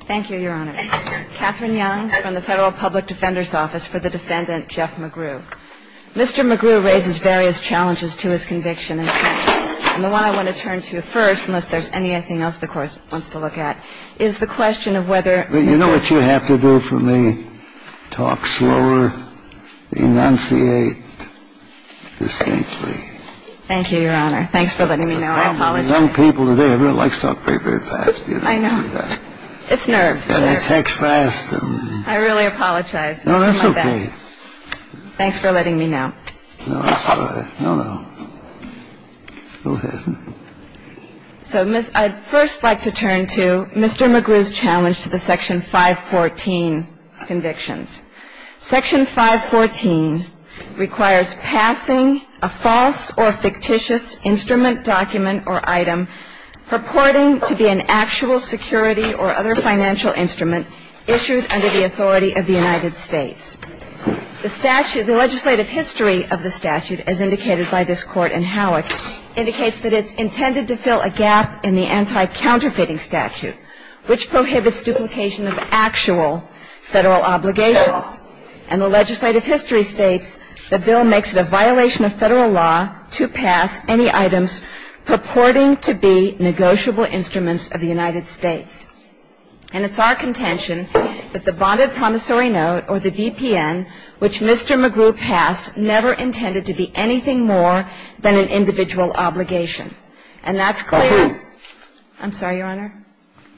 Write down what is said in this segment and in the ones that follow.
Thank you, Your Honor. Catherine Young from the Federal Public Defender's Office for the defendant Jeff McGrue. Mr. McGrue raises various challenges to his conviction and sentence. And the one I want to turn to first, unless there's anything else the Court wants to look at, is the question of whether Mr. You know what you have to do for me? Talk slower, enunciate distinctly. Thank you, Your Honor. Thanks for letting me know. I apologize. Young people today really like to talk very, very fast. I know. It's nerves. They text fast. I really apologize. No, that's okay. Thanks for letting me know. No, that's all right. No, no. Go ahead. So, Miss, I'd first like to turn to Mr. McGrue's challenge to the Section 514 convictions. Section 514 requires passing a false or fictitious instrument, document, or item purporting to be an actual security or other financial instrument issued under the authority of the United States. The statute, the legislative history of the statute, as indicated by this Court in Howick, indicates that it's intended to fill a gap in the anti-counterfeiting statute, which prohibits duplication of actual Federal obligations. And the legislative history states the bill makes it a violation of Federal law to pass any items purporting to be negotiable instruments of the United States. And it's our contention that the bonded promissory note, or the BPN, which Mr. McGrue passed never intended to be anything more than an individual obligation. And that's clear. Of whom? I'm sorry, Your Honor?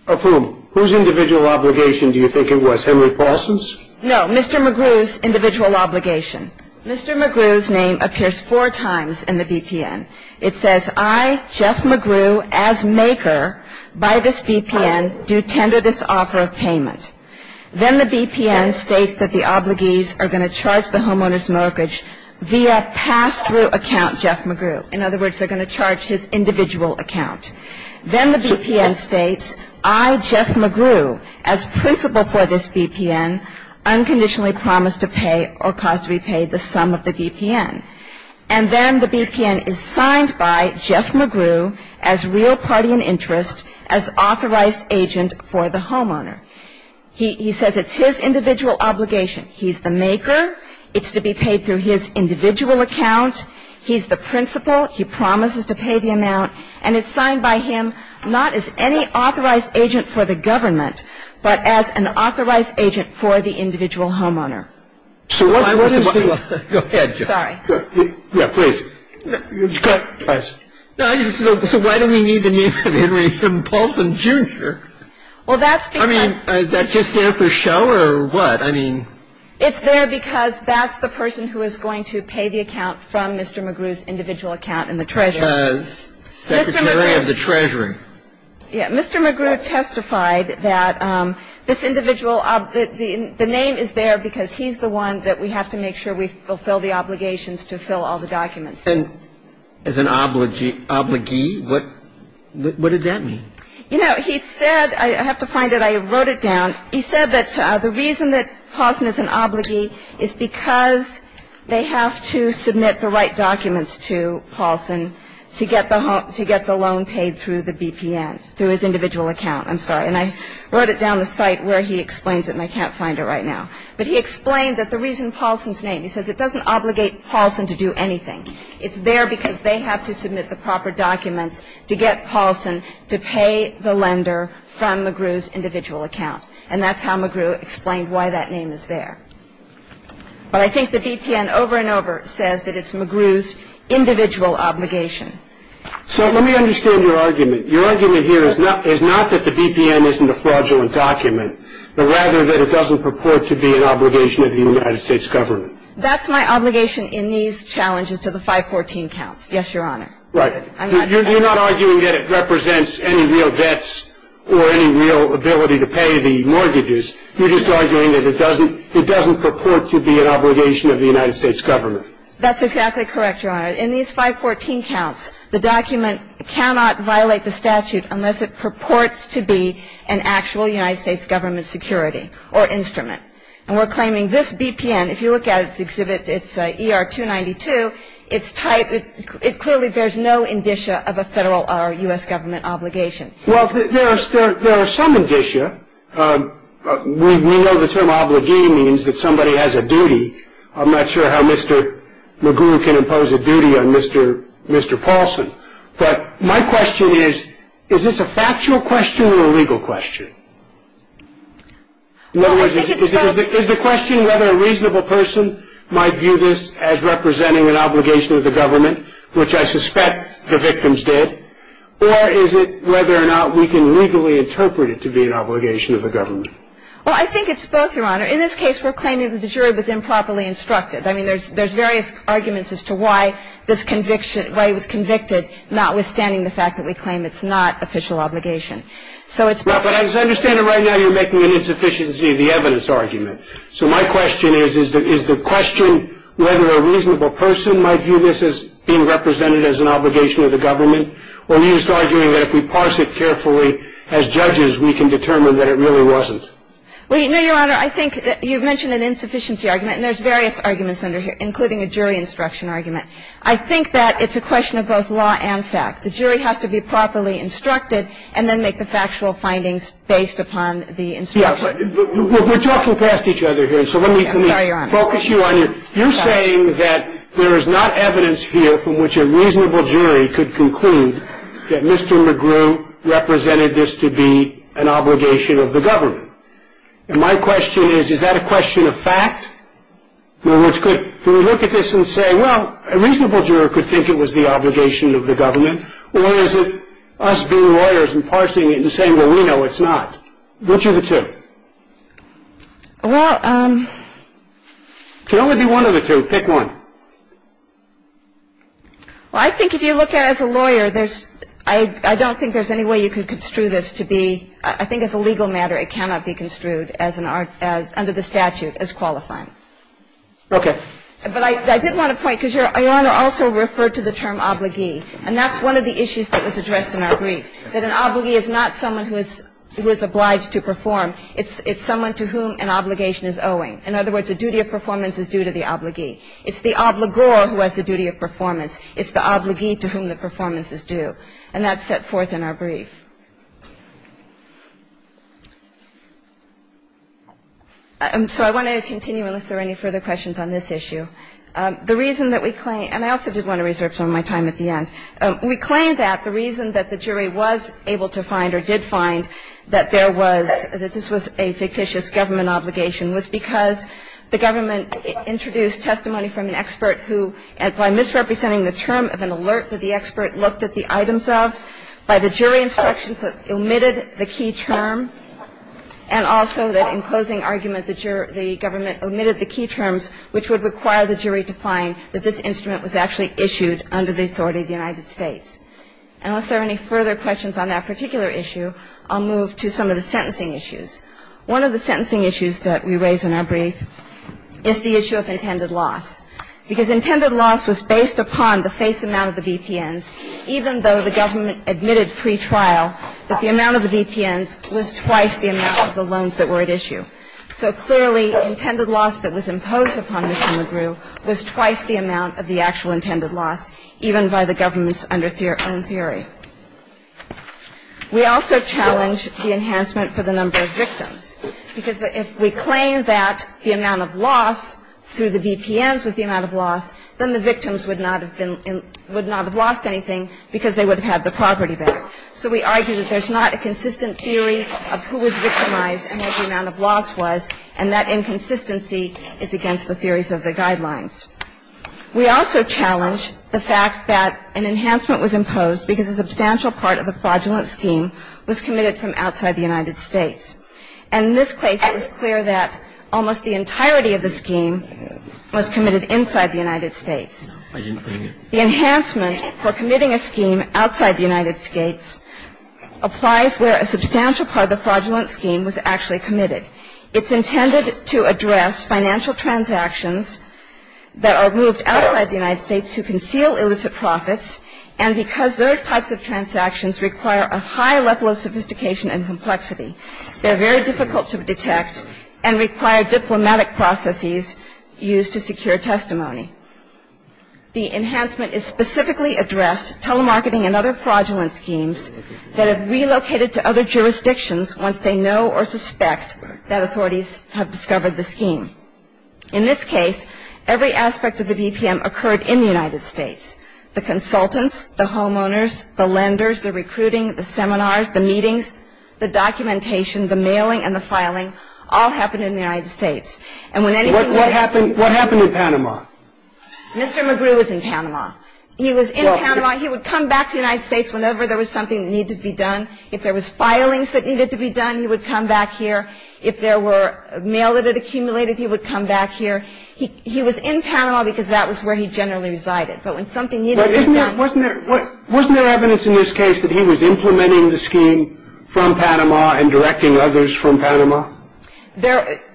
Of whom? Whose individual obligation do you think it was? Henry Paulson's? No, Mr. McGrue's individual obligation. Mr. McGrue's name appears four times in the BPN. It says, I, Jeff McGrue, as maker by this BPN, do tender this offer of payment. Then the BPN states that the obligees are going to charge the homeowner's mortgage via pass-through account Jeff McGrue. In other words, they're going to charge his individual account. Then the BPN states, I, Jeff McGrue, as principal for this BPN, unconditionally promise to pay or cause to repay the sum of the BPN. And then the BPN is signed by Jeff McGrue as real party in interest, as authorized agent for the homeowner. He says it's his individual obligation. He's the maker. It's to be paid through his individual account. He's the principal. He promises to pay the amount. And it's signed by him not as any authorized agent for the government, but as an authorized agent for the individual homeowner. So what is the – Go ahead, Jeff. Sorry. Yeah, please. So why do we need the name Henry M. Paulson, Jr.? Well, that's because – I mean, is that just there for show or what? I mean – It's there because that's the person who is going to pay the account from Mr. McGrue's individual account in the treasury. Because Secretary of the Treasury. Yeah. Mr. McGrue testified that this individual – the name is there because he's the one that we have to make sure we fulfill the obligations to fill all the documents. And as an obligee, what did that mean? You know, he said – I have to find it. I wrote it down. He said that the reason that Paulson is an obligee is because they have to submit the right documents to Paulson to get the loan paid through the BPN, through his individual account. I'm sorry. And I wrote it down on the site where he explains it, and I can't find it right now. But he explained that the reason Paulson's name – he says it doesn't obligate Paulson to do anything. It's there because they have to submit the proper documents to get Paulson to pay the lender from McGrue's individual account. And that's how McGrue explained why that name is there. But I think the BPN over and over says that it's McGrue's individual obligation. So let me understand your argument. Your argument here is not that the BPN isn't a fraudulent document, but rather that it doesn't purport to be an obligation of the United States government. That's my obligation in these challenges to the 514 counts. Yes, Your Honor. Right. You're not arguing that it represents any real debts or any real ability to pay the mortgages. You're just arguing that it doesn't purport to be an obligation of the United States government. That's exactly correct, Your Honor. In these 514 counts, the document cannot violate the statute unless it purports to be an actual United States government security or instrument. And we're claiming this BPN, if you look at its exhibit, it's ER-292. It clearly bears no indicia of a federal or U.S. government obligation. Well, there are some indicia. We know the term obligee means that somebody has a duty. I'm not sure how Mr. McGrue can impose a duty on Mr. Paulson. But my question is, is this a factual question or a legal question? Well, I think it's both. Is the question whether a reasonable person might view this as representing an obligation of the government, which I suspect the victims did, or is it whether or not we can legally interpret it to be an obligation of the government? Well, I think it's both, Your Honor. In this case, we're claiming that the jury was improperly instructed. I mean, there's various arguments as to why this conviction, why he was convicted, notwithstanding the fact that we claim it's not official obligation. So it's both. But as I understand it right now, you're making an insufficiency of the evidence argument. So my question is, is the question whether a reasonable person might view this as being represented as an obligation of the government, or are you just arguing that if we parse it carefully as judges, we can determine that it really wasn't? Well, no, Your Honor. I think you mentioned an insufficiency argument, and there's various arguments under here, including a jury instruction argument. I think that it's a question of both law and fact. The jury has to be properly instructed and then make the factual findings based upon the instructions. We're talking past each other here, so let me focus you on your – you're saying that there is not evidence here from which a reasonable jury could conclude that Mr. McGrew represented this to be an obligation of the government. And my question is, is that a question of fact? In other words, could – do we look at this and say, well, a reasonable juror could think it was the obligation of the government, or is it us being lawyers and parsing it and saying, well, we know it's not? Which are the two? Well – It can only be one of the two. Pick one. Well, I think if you look at it as a lawyer, there's – I don't think there's any way you can construe this to be – I think as a legal matter, it cannot be construed as an – under the statute as qualifying. Okay. But I did want to point, because Your Honor also referred to the term obligee. And that's one of the issues that was addressed in our brief, that an obligee is not someone who is obliged to perform. It's someone to whom an obligation is owing. In other words, a duty of performance is due to the obligee. It's the obligor who has the duty of performance. It's the obligee to whom the performance is due. And that's set forth in our brief. And so I want to continue unless there are any further questions on this issue. The reason that we claim – and I also did want to reserve some of my time at the end. We claim that the reason that the jury was able to find or did find that there was – that this was a fictitious government obligation was because the government introduced testimony from an expert who, by misrepresenting the term of an alert that the expert looked at the items of, by the jury instructions that omitted the key term, and also that in closing argument the government omitted the key terms which would require the jury to find that this instrument was actually issued under the authority of the United States. Unless there are any further questions on that particular issue, I'll move to some of the sentencing issues. One of the sentencing issues that we raise in our brief is the issue of intended loss. Because intended loss was based upon the face amount of the BPNs, even though the government admitted pre-trial that the amount of the BPNs was twice the amount of the loans that were at issue. So clearly, intended loss that was imposed upon Ms. McGrew was twice the amount of the actual intended loss, even by the government's own theory. We also challenge the enhancement for the number of victims. Because if we claim that the amount of loss through the BPNs was the amount of loss, then the victims would not have been, would not have lost anything because they would have had the property back. So we argue that there's not a consistent theory of who was victimized and what the amount of loss was, and that inconsistency is against the theories of the guidelines. We also challenge the fact that an enhancement was imposed because a substantial part of the fraudulent scheme was committed from outside the United States. And in this case, it was clear that almost the entirety of the scheme was committed inside the United States. The enhancement for committing a scheme outside the United States applies where a substantial part of the fraudulent scheme was actually committed. It's intended to address financial transactions that are moved outside the United States to conceal illicit profits. And because those types of transactions require a high level of sophistication and complexity, they're very difficult to detect and require diplomatic processes used to secure testimony. The enhancement is specifically addressed telemarketing and other fraudulent schemes that have relocated to other jurisdictions once they know or suspect that authorities have discovered the scheme. In this case, every aspect of the BPM occurred in the United States. The consultants, the homeowners, the lenders, the recruiting, the seminars, the meetings, the documentation, the mailing, and the filing all happened in the United States. And when anything went wrong... What happened in Panama? Mr. McGrew was in Panama. He was in Panama. He would come back to the United States whenever there was something that needed to be done. If there was filings that needed to be done, he would come back here. If there were mail that had accumulated, he would come back here. He was in Panama because that was where he generally resided. But when something needed to be done... Wasn't there evidence in this case that he was implementing the scheme from Panama and directing others from Panama? There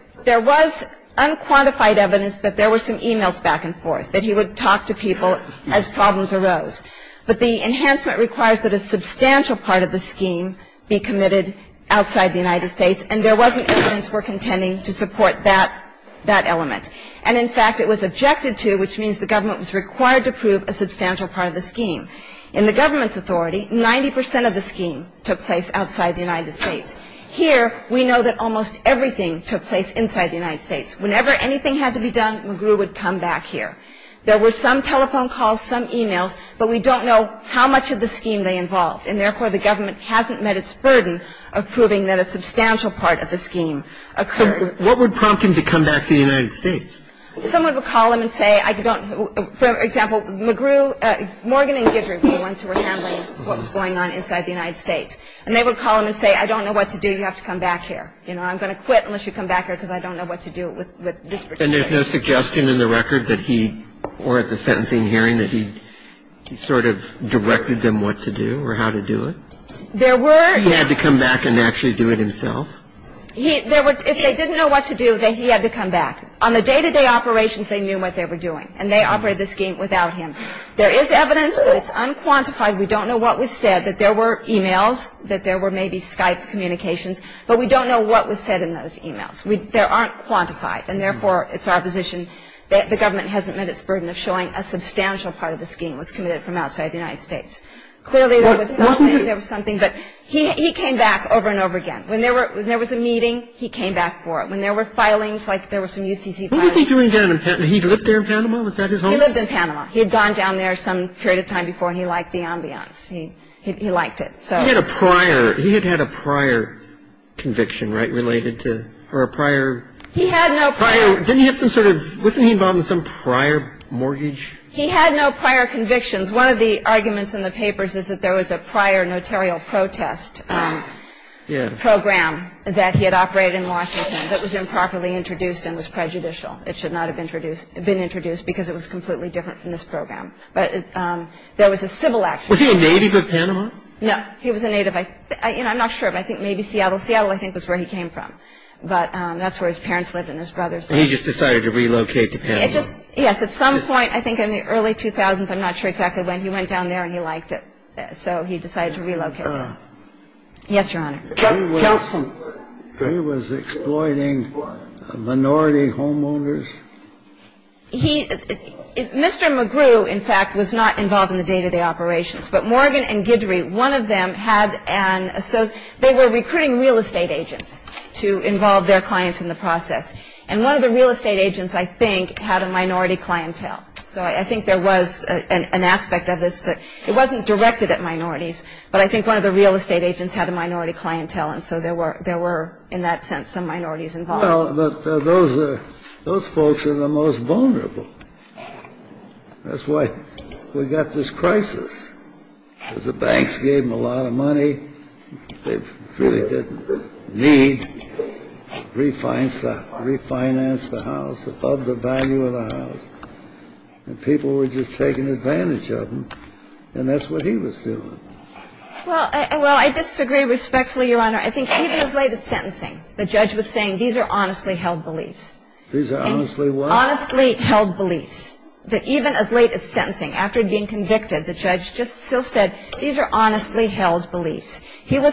was unquantified evidence that there were some e-mails back and forth, that he would talk to people as problems arose. But the enhancement requires that a substantial part of the scheme be committed outside the United States, and there wasn't evidence we're contending to support that element. And in fact, it was objected to, which means the government was required to prove a substantial part of the scheme. In the government's authority, 90 percent of the scheme took place outside the United States. Here, we know that almost everything took place inside the United States. Whenever anything had to be done, McGrew would come back here. There were some telephone calls, some e-mails, but we don't know how much of the scheme they involved. And therefore, the government hasn't met its burden of proving that a substantial part of the scheme occurred. What would prompt him to come back to the United States? Someone would call him and say, I don't know. For example, McGrew, Morgan and Gidrick were the ones who were handling what was going on inside the United States. And they would call him and say, I don't know what to do. You have to come back here. You know, I'm going to quit unless you come back here because I don't know what to do with this particular case. And there's no suggestion in the record that he, or at the sentencing hearing, that he sort of directed them what to do or how to do it? There were. He had to come back and actually do it himself? If they didn't know what to do, then he had to come back. On the day-to-day operations, they knew what they were doing. And they operated the scheme without him. There is evidence, but it's unquantified. We don't know what was said, that there were e-mails, that there were maybe Skype communications. But we don't know what was said in those e-mails. There aren't quantified. And therefore, it's our position that the government hasn't met its burden of showing a substantial part of the scheme was committed from outside the United States. Clearly, there was something. There was something. But he came back over and over again. When there was a meeting, he came back for it. When there were filings, like there were some UCC filings. What was he doing down in Panama? He lived there in Panama? Was that his home? He lived in Panama. He had gone down there some period of time before, and he liked the ambiance. He liked it. He had a prior conviction, right, related to, or a prior? He had no prior. Didn't he have some sort of, wasn't he involved in some prior mortgage? He had no prior convictions. One of the arguments in the papers is that there was a prior notarial protest program that he had operated in Washington that was improperly introduced and was prejudicial. It should not have been introduced because it was completely different from this program. But there was a civil action. Was he a native of Panama? No. He was a native. I'm not sure. I think maybe Seattle. Seattle, I think, was where he came from. And he just decided to relocate to Panama. It just, yes, at some point, I think in the early 2000s, I'm not sure exactly when, he went down there and he liked it. So he decided to relocate. Yes, Your Honor. He was exploiting minority homeowners? He, Mr. McGrew, in fact, was not involved in the day-to-day operations. But Morgan and Guidry, one of them had an, they were recruiting real estate agents to involve their clients in the process. And one of the real estate agents, I think, had a minority clientele. So I think there was an aspect of this that it wasn't directed at minorities. But I think one of the real estate agents had a minority clientele. And so there were, in that sense, some minorities involved. Well, those folks are the most vulnerable. That's why we got this crisis, because the banks gave them a lot of money. They really didn't need to refinance the house, of the value of the house. And people were just taking advantage of them. And that's what he was doing. Well, I disagree respectfully, Your Honor. I think even as late as sentencing, the judge was saying, these are honestly held beliefs. These are honestly what? Honestly held beliefs, that even as late as sentencing, after being convicted, the judge just still said, these are honestly held beliefs. He had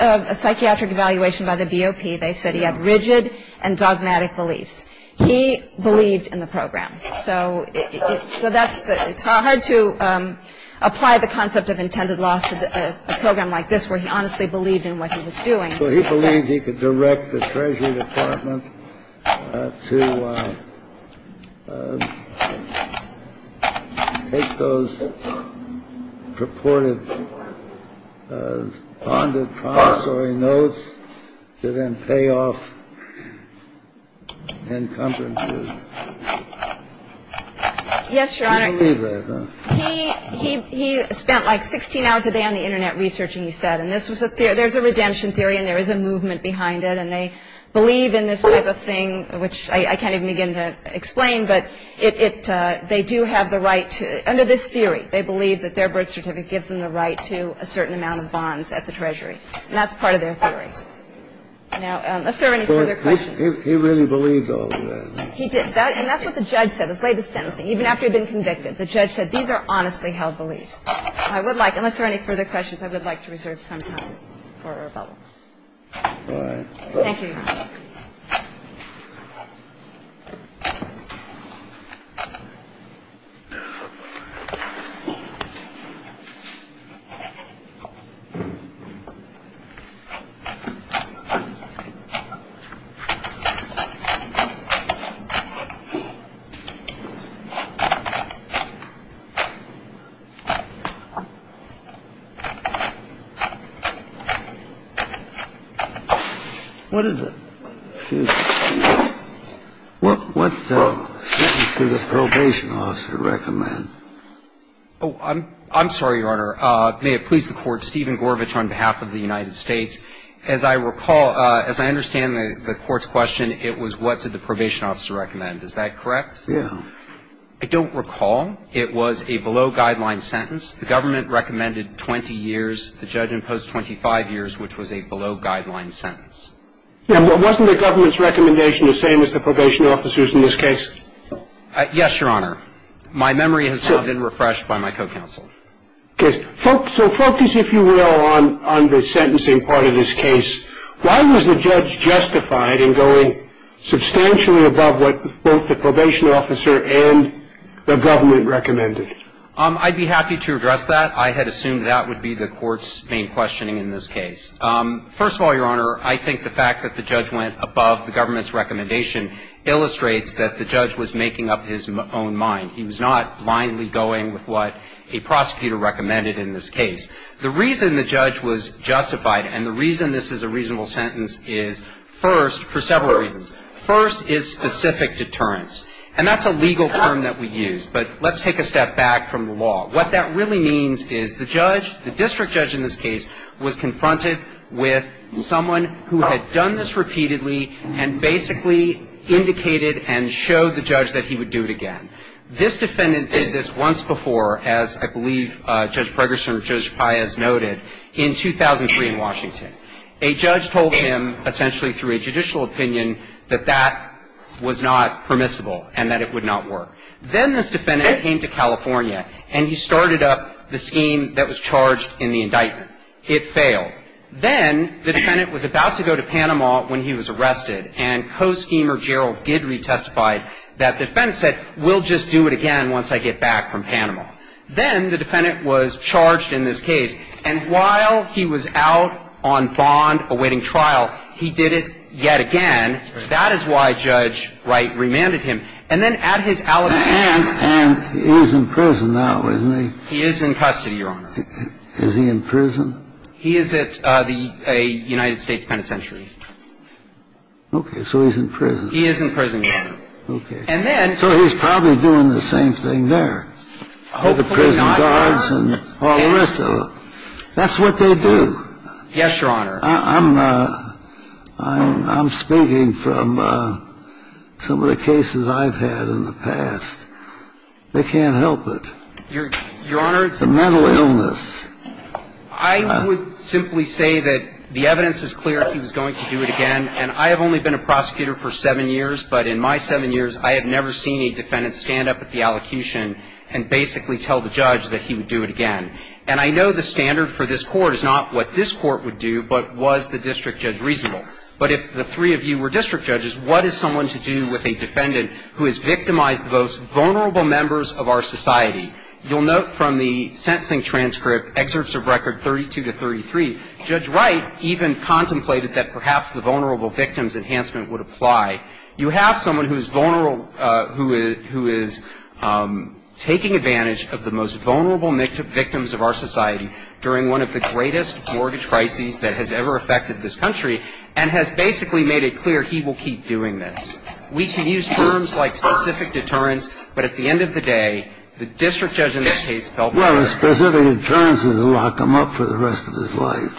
a psychiatric evaluation by the BOP. They said he had rigid and dogmatic beliefs. He believed in the program. So it's hard to apply the concept of intended loss to a program like this, where he honestly believed in what he was doing. So he believed he could direct the Treasury Department to take those purported bonded promissory notes to then pay off encumbrances. Yes, Your Honor. He spent like 16 hours a day on the Internet researching, he said. And there's a redemption theory, and there is a movement behind it. And they believe in this type of thing, which I can't even begin to explain. But they do have the right to, under this theory, they believe that their birth certificate gives them the right to a certain amount of bonds at the Treasury. And that's part of their theory. Now, unless there are any further questions. He really believed all of that. He did. And that's what the judge said as late as sentencing, even after he'd been convicted. The judge said, these are honestly held beliefs. I would like, unless there are any further questions, I would like to reserve some time for rebuttal. Thank you. What is it? What sentence did the probation officer recommend? Oh, I'm sorry, Your Honor. May it please the Court. Stephen Gorovitch on behalf of the United States. As I recall, as I understand the Court's question, it was what did the probation officer recommend. Is that correct? Yeah. I don't recall. It was a below-guideline sentence. The government recommended 20 years. The judge imposed 25 years, which was a below-guideline sentence. Yeah, but wasn't the government's recommendation the same as the probation officer's in this case? Yes, Your Honor. My memory has now been refreshed by my co-counsel. Okay. So focus, if you will, on the sentencing part of this case. Why was the judge justified in going substantially above what both the probation officer and the government recommended? I'd be happy to address that. I had assumed that would be the Court's main questioning in this case. First of all, Your Honor, I think the fact that the judge went above the government's recommendation illustrates that the judge was making up his own mind. He was not blindly going with what a prosecutor recommended in this case. The reason the judge was justified, and the reason this is a reasonable sentence, is first, for several reasons. First is specific deterrence. And that's a legal term that we use. But let's take a step back from the law. What that really means is the judge, the district judge in this case, was confronted with someone who had done this repeatedly and basically indicated and showed the judge that he would do it again. This defendant did this once before, as I believe Judge Bregerson or Judge Paez noted, in 2003 in Washington. A judge told him, essentially through a judicial opinion, that that was not permissible and that it would not work. Then this defendant came to California and he started up the scheme that was charged in the indictment. It failed. Then the defendant was about to go to Panama when he was arrested. And co-schemer Gerald Guidry testified that the defendant said, we'll just do it again once I get back from Panama. Then the defendant was charged in this case. And while he was out on bond awaiting trial, he did it yet again. That is why Judge Wright remanded him. And then at his alibi, he was in custody. And he's in prison now, isn't he? He is in custody, Your Honor. Is he in prison? He is at the United States Penitentiary. Okay. So he's in prison. He is in prison, Your Honor. And then he's probably doing the same thing there. Hopefully not, Your Honor. With the prison guards and all the rest of them. That's what they do. Yes, Your Honor. I'm speaking from some of the cases I've had in the past. They can't help it. Your Honor. It's a mental illness. I would simply say that the evidence is clear that he was going to do it again. And I have only been a prosecutor for seven years. But in my seven years, I have never seen a defendant stand up at the allocution and basically tell the judge that he would do it again. And I know the standard for this Court is not what this Court would do, but was the district judge reasonable? But if the three of you were district judges, what is someone to do with a defendant who has victimized the most vulnerable members of our society? You'll note from the sentencing transcript, excerpts of record 32 to 33, Judge Wright even contemplated that perhaps the vulnerable victims enhancement would apply. You have someone who is vulnerable, who is taking advantage of the most vulnerable victims of our society during one of the greatest mortgage crises that has ever affected this country, and has basically made it clear he will keep doing this. We can use terms like specific deterrence, but at the end of the day, the district judge in this case felt better. Well, a specific deterrence is a lock them up for the rest of his life.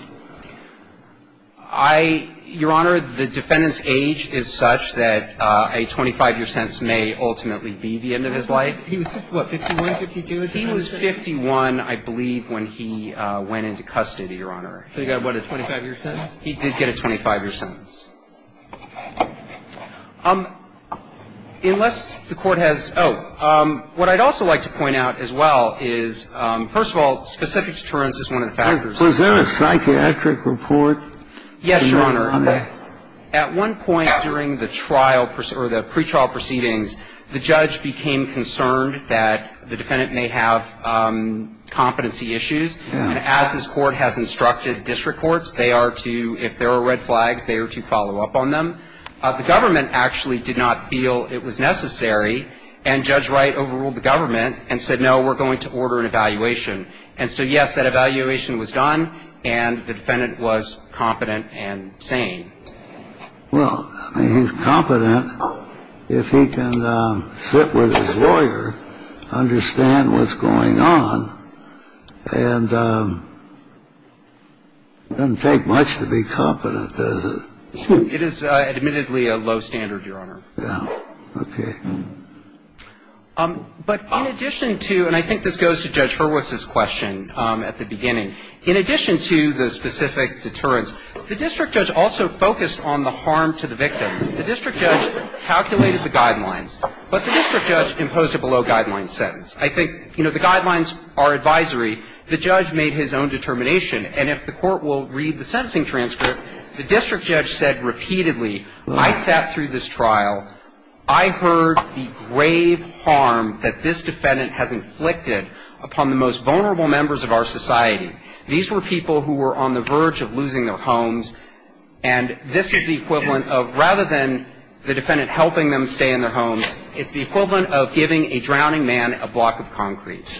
Your Honor, the defendant's age is such that a 25-year sentence may ultimately be the end of his life. He was, what, 51, 52 at the time? He was 51, I believe, when he went into custody, Your Honor. So he got, what, a 25-year sentence? He did get a 25-year sentence. Unless the Court has – oh. What I'd also like to point out as well is, first of all, specific deterrence is one of the factors. Was there a psychiatric report? Yes, Your Honor. At one point during the trial or the pretrial proceedings, the judge became concerned that the defendant may have competency issues. And as this Court has instructed district courts, they are to, if there are red flags, they are to follow up on them. The government actually did not feel it was necessary, and Judge Wright overruled the government and said, no, we're going to order an evaluation. And so, yes, that evaluation was done, and the defendant was competent and sane. Well, I mean, he's competent if he can sit with his lawyer, understand what's going on, and it doesn't take much to be competent, does it? It is admittedly a low standard, Your Honor. Yeah. Okay. But in addition to – and I think this goes to Judge Hurwitz's question at the beginning. In addition to the specific deterrence, the district judge also focused on the harm to the victims. The district judge calculated the guidelines, but the district judge imposed a below-guidelines sentence. I think, you know, the guidelines are advisory. The judge made his own determination. And if the Court will read the sentencing transcript, the district judge said repeatedly, I sat through this trial, I heard the grave harm that this defendant has inflicted upon the most vulnerable members of our society. These were people who were on the verge of losing their homes, and this is the equivalent of, rather than the defendant helping them stay in their homes, it's the equivalent of giving a drowning man a block of concretes.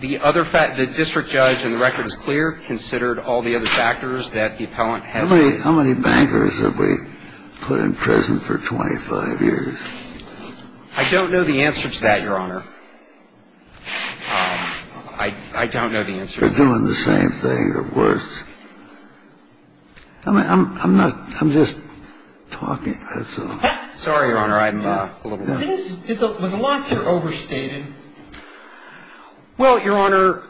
The other – the district judge, and the record is clear, considered all the other factors that the appellant had raised. How many bankers have we put in prison for 25 years? I don't know the answer to that, Your Honor. I don't know the answer to that. You're doing the same thing, or worse. I'm not – I'm just talking. Sorry, Your Honor. I'm a little – The losses are overstated. Well, Your Honor,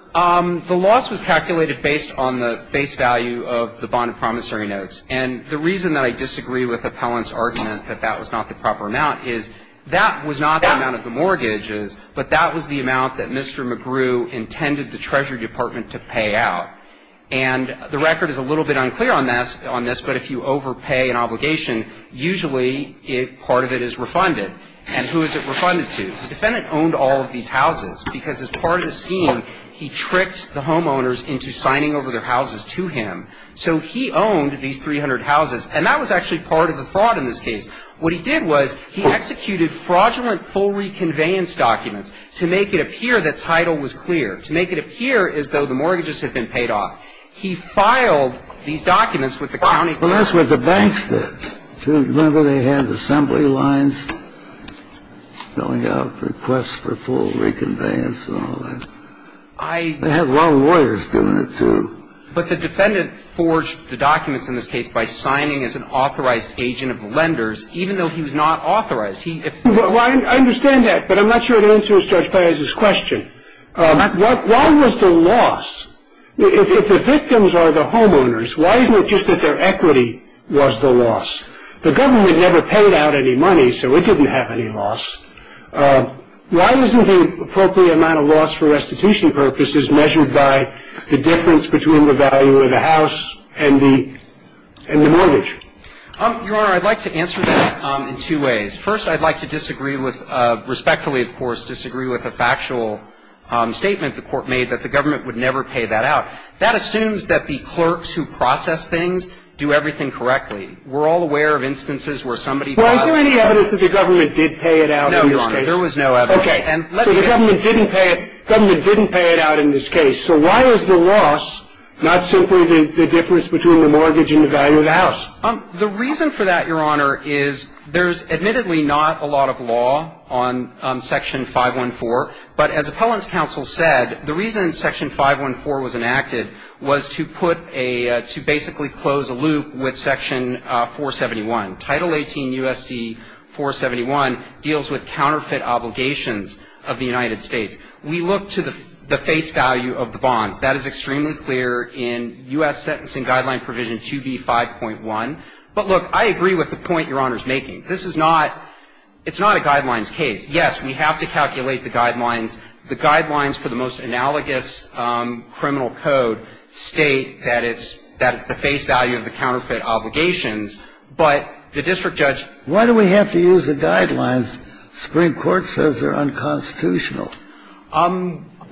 the loss was calculated based on the face value of the bond of promissory notes. And the reason that I disagree with the appellant's argument that that was not the proper amount is that was not the amount of the mortgages, but that was the amount that Mr. McGrew intended the Treasury Department to pay out. And the record is a little bit unclear on this, but if you overpay an obligation, usually part of it is refunded. And who is it refunded to? The defendant owned all of these houses, because as part of the scheme, he tricked the homeowners into signing over their houses to him. So he owned these 300 houses, and that was actually part of the fraud in this case. What he did was he executed fraudulent full reconveyance documents to make it appear that title was clear, to make it appear as though the mortgages had been paid off. He filed these documents with the county court. Well, that's what the banks did. Remember, they had assembly lines going out, requests for full reconveyance and all that. I – They had law lawyers doing it, too. But the defendant forged the documents in this case by signing as an authorized agent of lenders, even though he was not authorized. He – Well, I understand that, but I'm not sure it answers Judge Perez's question. Why was the loss – if the victims are the homeowners, why isn't it just that their equity was the loss? The government never paid out any money, so it didn't have any loss. Why isn't the appropriate amount of loss for restitution purposes measured by the difference between the value of the house and the mortgage? Your Honor, I'd like to answer that in two ways. First, I'd like to disagree with – respectfully, of course, disagree with a factual statement the Court made that the government would never pay that out. That assumes that the clerks who process things do everything correctly. We're all aware of instances where somebody – Well, is there any evidence that the government did pay it out in this case? No, Your Honor. There was no evidence. Okay. So the government didn't pay it – government didn't pay it out in this case. So why is the loss not simply the difference between the mortgage and the value of the house? The reason for that, Your Honor, is there's admittedly not a lot of law on Section 514. But as Appellant's counsel said, the reason Section 514 was enacted was to put a – to basically close a loop with Section 471. Title 18 U.S.C. 471 deals with counterfeit obligations of the United States. We look to the face value of the bonds. That is extremely clear in U.S. Sentencing Guideline Provision 2B5.1. But, look, I agree with the point Your Honor's making. This is not – it's not a guidelines case. Yes, we have to calculate the guidelines. The guidelines for the most analogous criminal code state that it's – that it's the face value of the counterfeit obligations. But the district judge – Why do we have to use the guidelines? The Supreme Court says they're unconstitutional.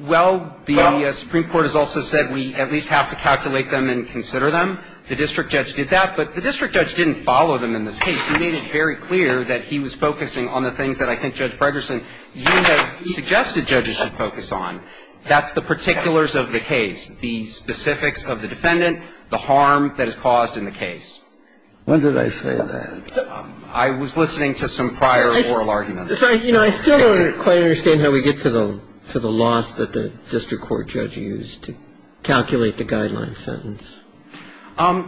Well, the Supreme Court has also said we at least have to calculate them and consider them. The district judge did that. But the district judge didn't follow them in this case. He made it very clear that he was focusing on the things that I think Judge Fredersen you have suggested judges should focus on. That's the particulars of the case, the specifics of the defendant, the harm that is caused in the case. When did I say that? I was listening to some prior oral arguments. You know, I still don't quite understand how we get to the loss that the district court judge used to calculate the guideline sentence.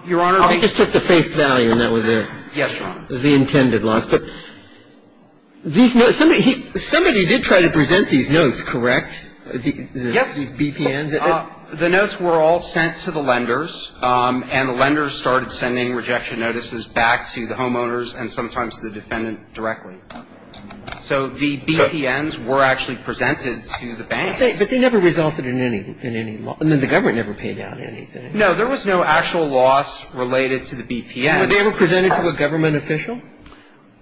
Your Honor, I just took the face value and that was it. Yes, Your Honor. It was the intended loss. But these notes – somebody did try to present these notes, correct? Yes. These BPNs. The notes were all sent to the lenders, and the lenders started sending rejection notices back to the homeowners and sometimes the defendant directly. So the BPNs were actually presented to the banks. But they never resulted in any loss. I mean, the government never paid out anything. No, there was no actual loss related to the BPNs. Were they ever presented to a government official?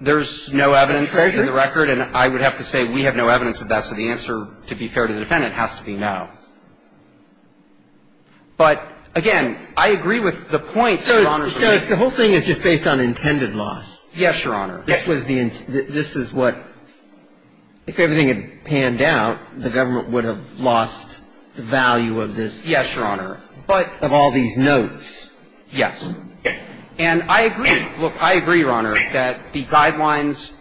There's no evidence in the record. A treasurer? And I would have to say we have no evidence of that. So the answer, to be fair to the defendant, has to be no. But, again, I agree with the point, Your Honor. So the whole thing is just based on intended loss. Yes, Your Honor. This was the – this is what – if everything had panned out, the government would have lost the value of this. Yes, Your Honor. But – Of all these notes. Yes. And I agree. Look, I agree, Your Honor, that the guidelines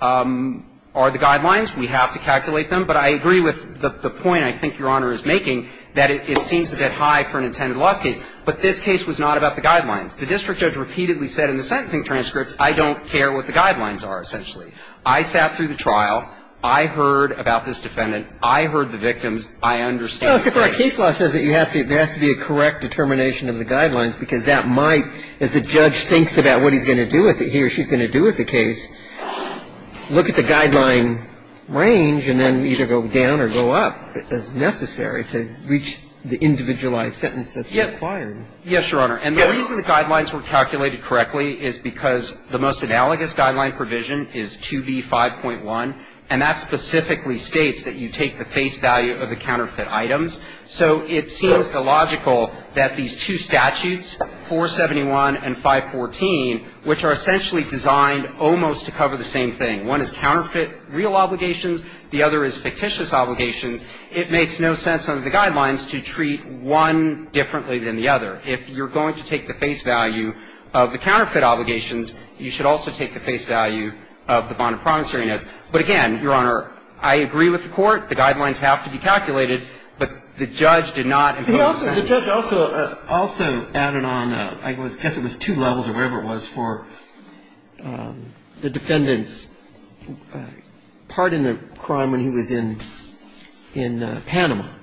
are the guidelines. We have to calculate them. But I agree with the point I think Your Honor is making, that it seems a bit high for an intended loss case. But this case was not about the guidelines. The district judge repeatedly said in the sentencing transcript, I don't care what the guidelines are, essentially. I sat through the trial. I heard about this defendant. I heard the victims. I understand the case. Well, look, if our case law says that you have to – there has to be a correct determination of the guidelines, because that might, as the judge thinks about what he's going to do with it, he or she's going to do with the case, look at the guidelines. And I don't think there's any reason to go down or go up as necessary to reach the individualized sentence that's required. Yes, Your Honor. And the reason the guidelines were calculated correctly is because the most analogous guideline provision is 2B5.1, and that specifically states that you take the face value of the counterfeit items. So it seems illogical that these two statutes, 471 and 514, which are essentially designed almost to cover the same thing. One is counterfeit real obligations. The other is fictitious obligations. It makes no sense under the guidelines to treat one differently than the other. If you're going to take the face value of the counterfeit obligations, you should also take the face value of the bond of promissory notes. But again, Your Honor, I agree with the Court. The guidelines have to be calculated, but the judge did not impose a sentence. The judge also added on, I guess it was two levels or whatever it was, for the defendants to take the face value of the bond of promissory notes. And, of course, the defendant was not satisfied with this. And the judge also added that it was part in a crime when he was in Panama.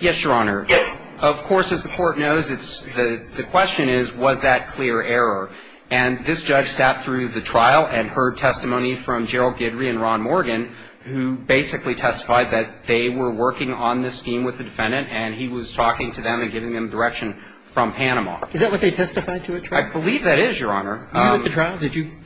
Yes, Your Honor. Of course, as the Court knows, it's the question is was that clear error, and this judge sat through the trial and heard testimony from Gerald Guidry and Ron Morgan, who basically testified that they were working on this scheme with the defendant and he was talking to them and giving them direction from Panama. Is that what they testified to at trial? I believe that is, Your Honor. Were you at the trial?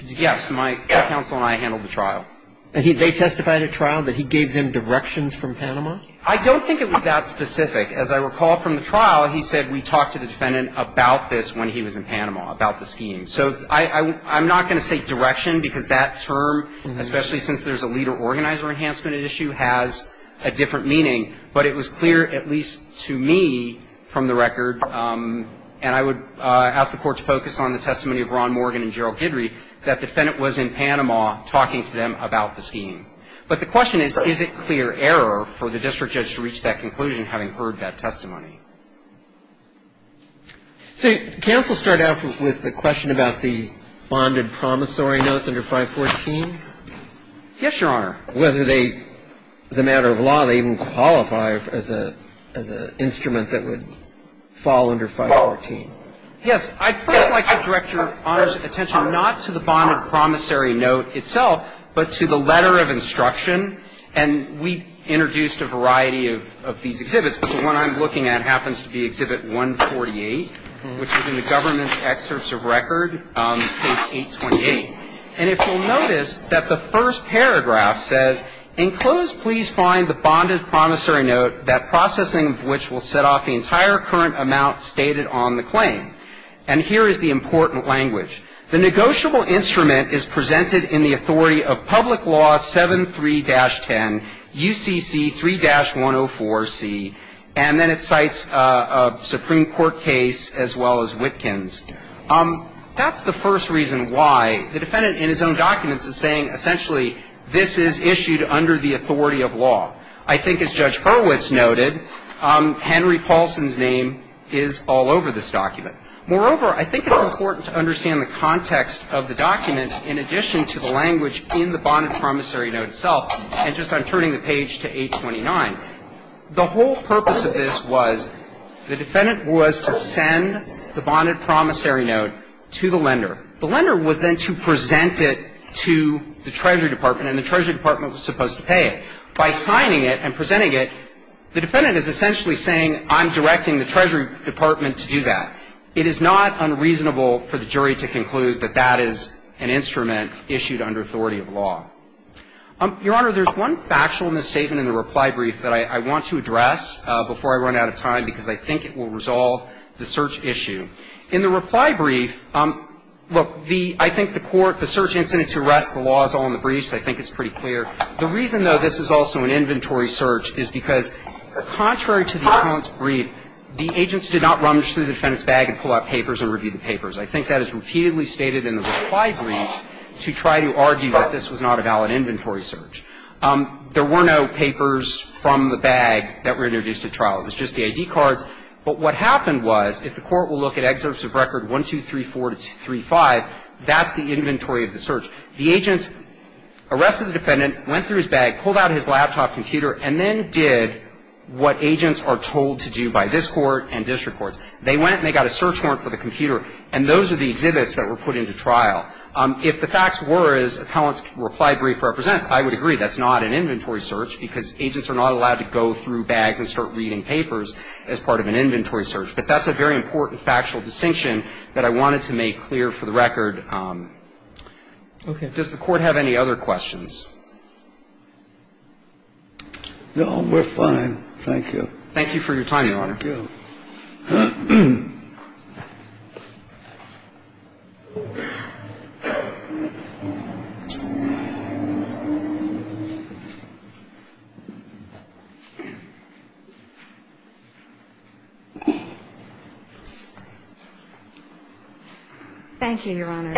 Yes, my counsel and I handled the trial. And they testified at trial that he gave them directions from Panama? I don't think it was that specific. As I recall from the trial, he said, we talked to the defendant about this when he was in Panama, about the scheme. So I'm not going to say direction because that term, especially since there's a leader-organizer enhancement issue, has a different meaning. But it was clear, at least to me from the record, and I would ask the Court to focus on the testimony of Ron Morgan and Gerald Guidry, that the defendant was in Panama talking to them about the scheme. But the question is, is it clear error for the district judge to reach that conclusion having heard that testimony? So counsel, start out with the question about the bonded promissory notes under 514. Yes, Your Honor. Whether they, as a matter of law, they even qualify as an instrument that would fall under 514. Yes. I'd like to direct Your Honor's attention not to the bonded promissory note itself, but to the letter of instruction. And we introduced a variety of these exhibits. But the one I'm looking at happens to be Exhibit 148, which is in the government's excerpts of record, page 828. And if you'll notice that the first paragraph says, Enclosed, please find the bonded promissory note, that processing of which will set off the entire current amount stated on the claim. And here is the important language. The negotiable instrument is presented in the authority of Public Law 73-10 UCC 3-104C. And then it cites a Supreme Court case as well as Witkin's. That's the first reason why the defendant in his own documents is saying essentially this is issued under the authority of law. I think as Judge Hurwitz noted, Henry Paulson's name is all over this document. Moreover, I think it's important to understand the context of the document in addition to the language in the bonded promissory note itself. And just I'm turning the page to 829. The whole purpose of this was the defendant was to send the bonded promissory note to the lender. The lender was then to present it to the Treasury Department, and the Treasury Department was supposed to pay it. By signing it and presenting it, the defendant is essentially saying I'm directing the Treasury Department to do that. It is not unreasonable for the jury to conclude that that is an instrument issued under authority of law. Your Honor, there's one factual misstatement in the reply brief that I want to address before I run out of time because I think it will resolve the search issue. In the reply brief, look, the – I think the court, the search incident to arrest the law is all in the brief, so I think it's pretty clear. The reason, though, this is also an inventory search is because contrary to the account's brief, the agents did not rummage through the defendant's bag and pull out papers and review the papers. I think that is repeatedly stated in the reply brief to try to argue that this was not a valid inventory search. There were no papers from the bag that were introduced at trial. It was just the I.D. cards. But what happened was, if the court will look at excerpts of record 1234 to 235, that's the inventory of the search. The agents arrested the defendant, went through his bag, pulled out his laptop computer, and then did what agents are told to do by this Court and district courts. They went and they got a search warrant for the computer, and those are the exhibits that were put into trial. If the facts were, as appellants reply brief represents, I would agree that's not an inventory search because agents are not allowed to go through bags and start reading papers as part of an inventory search. But that's a very important factual distinction that I wanted to make clear for the record. Okay. Does the Court have any other questions? No, we're fine. Thank you. Thank you for your time, Your Honor. Thank you. Thank you, Your Honor.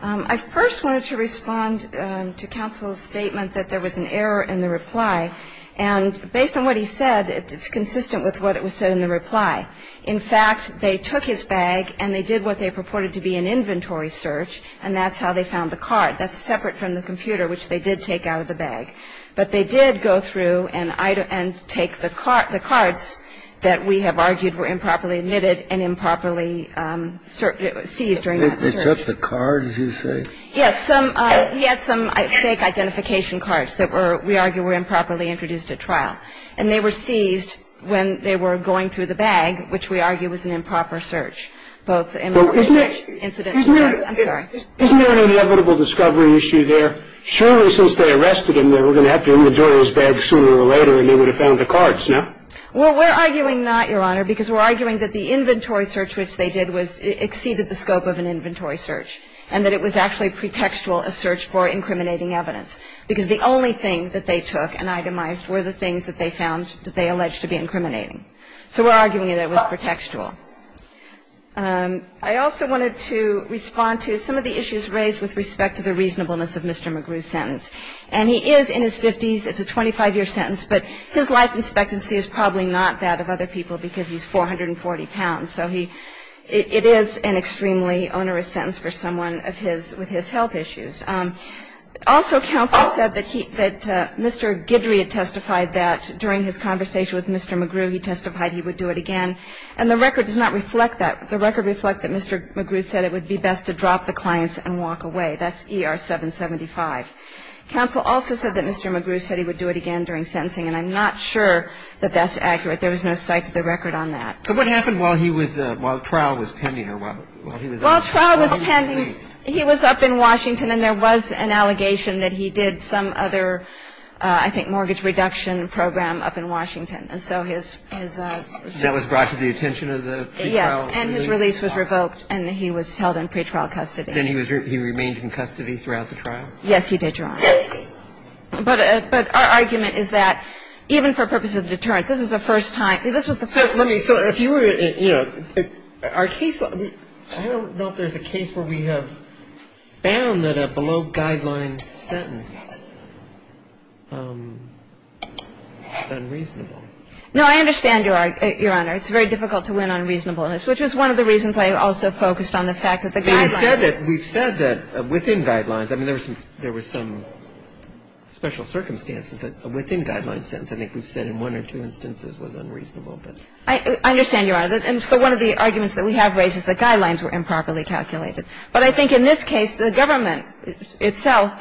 I first wanted to respond to counsel's statement that there was an error in the reply. And based on what he said, it's consistent with what it was said in the reply. In fact, they took his bag and they did what they purported to be an inventory search, and that's how they found the card. That's separate from the computer, which they did take out of the bag. But they did go through and take the cards that we have argued were improperly emitted and improperly seized during that search. Except the cards, you say? Yes. He had some fake identification cards that were, we argue, were improperly introduced at trial. And they were seized when they were going through the bag, which we argue was an improper search. Isn't there an inevitable discovery issue there? Surely, since they arrested him, they were going to have to inventory his bag sooner or later and they would have found the cards, no? Well, we're arguing not, Your Honor, because we're arguing that the inventory search which they did was exceeded the scope of an inventory search and that it was actually pretextual, a search for incriminating evidence, because the only thing that they took and itemized were the things that they found that they alleged to be incriminating. So we're arguing that it was pretextual. I also wanted to respond to some of the issues raised with respect to the reasonableness of Mr. McGrew's sentence. And he is in his 50s. It's a 25-year sentence. But his life expectancy is probably not that of other people because he's 440 pounds. So he – it is an extremely onerous sentence for someone of his – with his health issues. Also, counsel said that he – that Mr. Guidry had testified that during his conversation with Mr. McGrew, he testified he would do it again. And the record does not reflect that. The record reflects that Mr. McGrew said it would be best to drop the clients and walk away. That's ER 775. Counsel also said that Mr. McGrew said he would do it again during sentencing. And I'm not sure that that's accurate. There was no cite to the record on that. So what happened while he was – while the trial was pending or while he was released? While the trial was pending, he was up in Washington and there was an allegation that he did some other, I think, mortgage reduction program up in Washington. And so his – his – That was brought to the attention of the pre-trial release? Yes. And his release was revoked and he was held in pre-trial custody. Then he was – he remained in custody throughout the trial? Yes, he did, Your Honor. But our argument is that even for purposes of deterrence, this is the first time – this was the first time. So let me – so if you were – you know, our case – I don't know if there's a case where we have found that a below-guideline sentence is unreasonable. No, I understand, Your Honor. It's very difficult to win on reasonableness, which was one of the reasons I also focused on the fact that the guidelines – We've said that – we've said that within guidelines – I mean, there were some – there were some special circumstances, but within guidelines, I think we've said in one or two instances was unreasonable. I understand, Your Honor. And so one of the arguments that we have raised is the guidelines were improperly calculated. But I think in this case, the government itself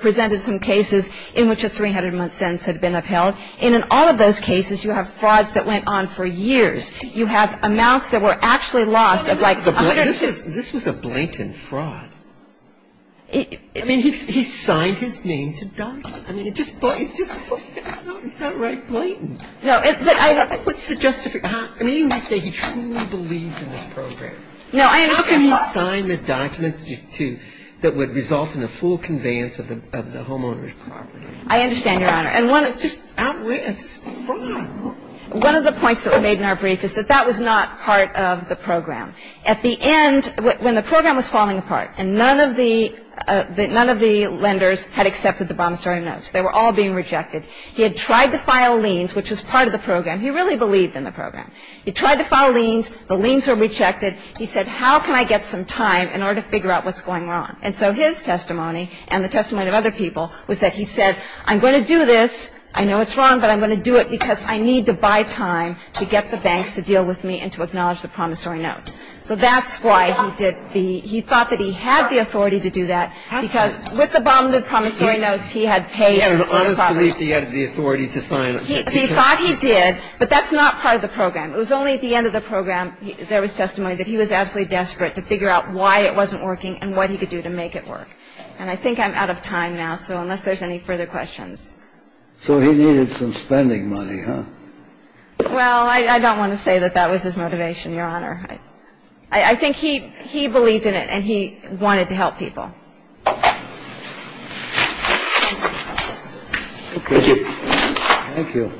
presented some cases in which a 300-month sentence had been upheld. And in all of those cases, you have frauds that went on for years. You have amounts that were actually lost of like 100 years. This was a blatant fraud. I mean, he signed his name to document. I mean, it just – it's just outright blatant. No, it's – What's the justification? I mean, you say he truly believed in this program. No, I understand. How can he sign the documents that would result in a full conveyance of the homeowner's property? I understand, Your Honor. And one of the – It's just outright – it's just fraud. One of the points that were made in our brief is that that was not part of the program. At the end, when the program was falling apart and none of the – none of the lenders had accepted the promissory notes, they were all being rejected, he had tried to file liens, which was part of the program. He really believed in the program. He tried to file liens. The liens were rejected. He said, how can I get some time in order to figure out what's going wrong? And so his testimony and the testimony of other people was that he said, I'm going to do this. I know it's wrong, but I'm going to do it because I need to buy time to get the banks to deal with me and to acknowledge the promissory notes. So that's why he did the – he thought that he had the authority to do that because with the bomb, the promissory notes, he had paid – He had an honest belief that he had the authority to sign – He thought he did, but that's not part of the program. It was only at the end of the program there was testimony that he was absolutely desperate to figure out why it wasn't working and what he could do to make it work. And I think I'm out of time now, so unless there's any further questions. So he needed some spending money, huh? Well, I don't want to say that that was his motivation, Your Honor. I think he – he believed in it and he wanted to help people. Thank you. Thank you.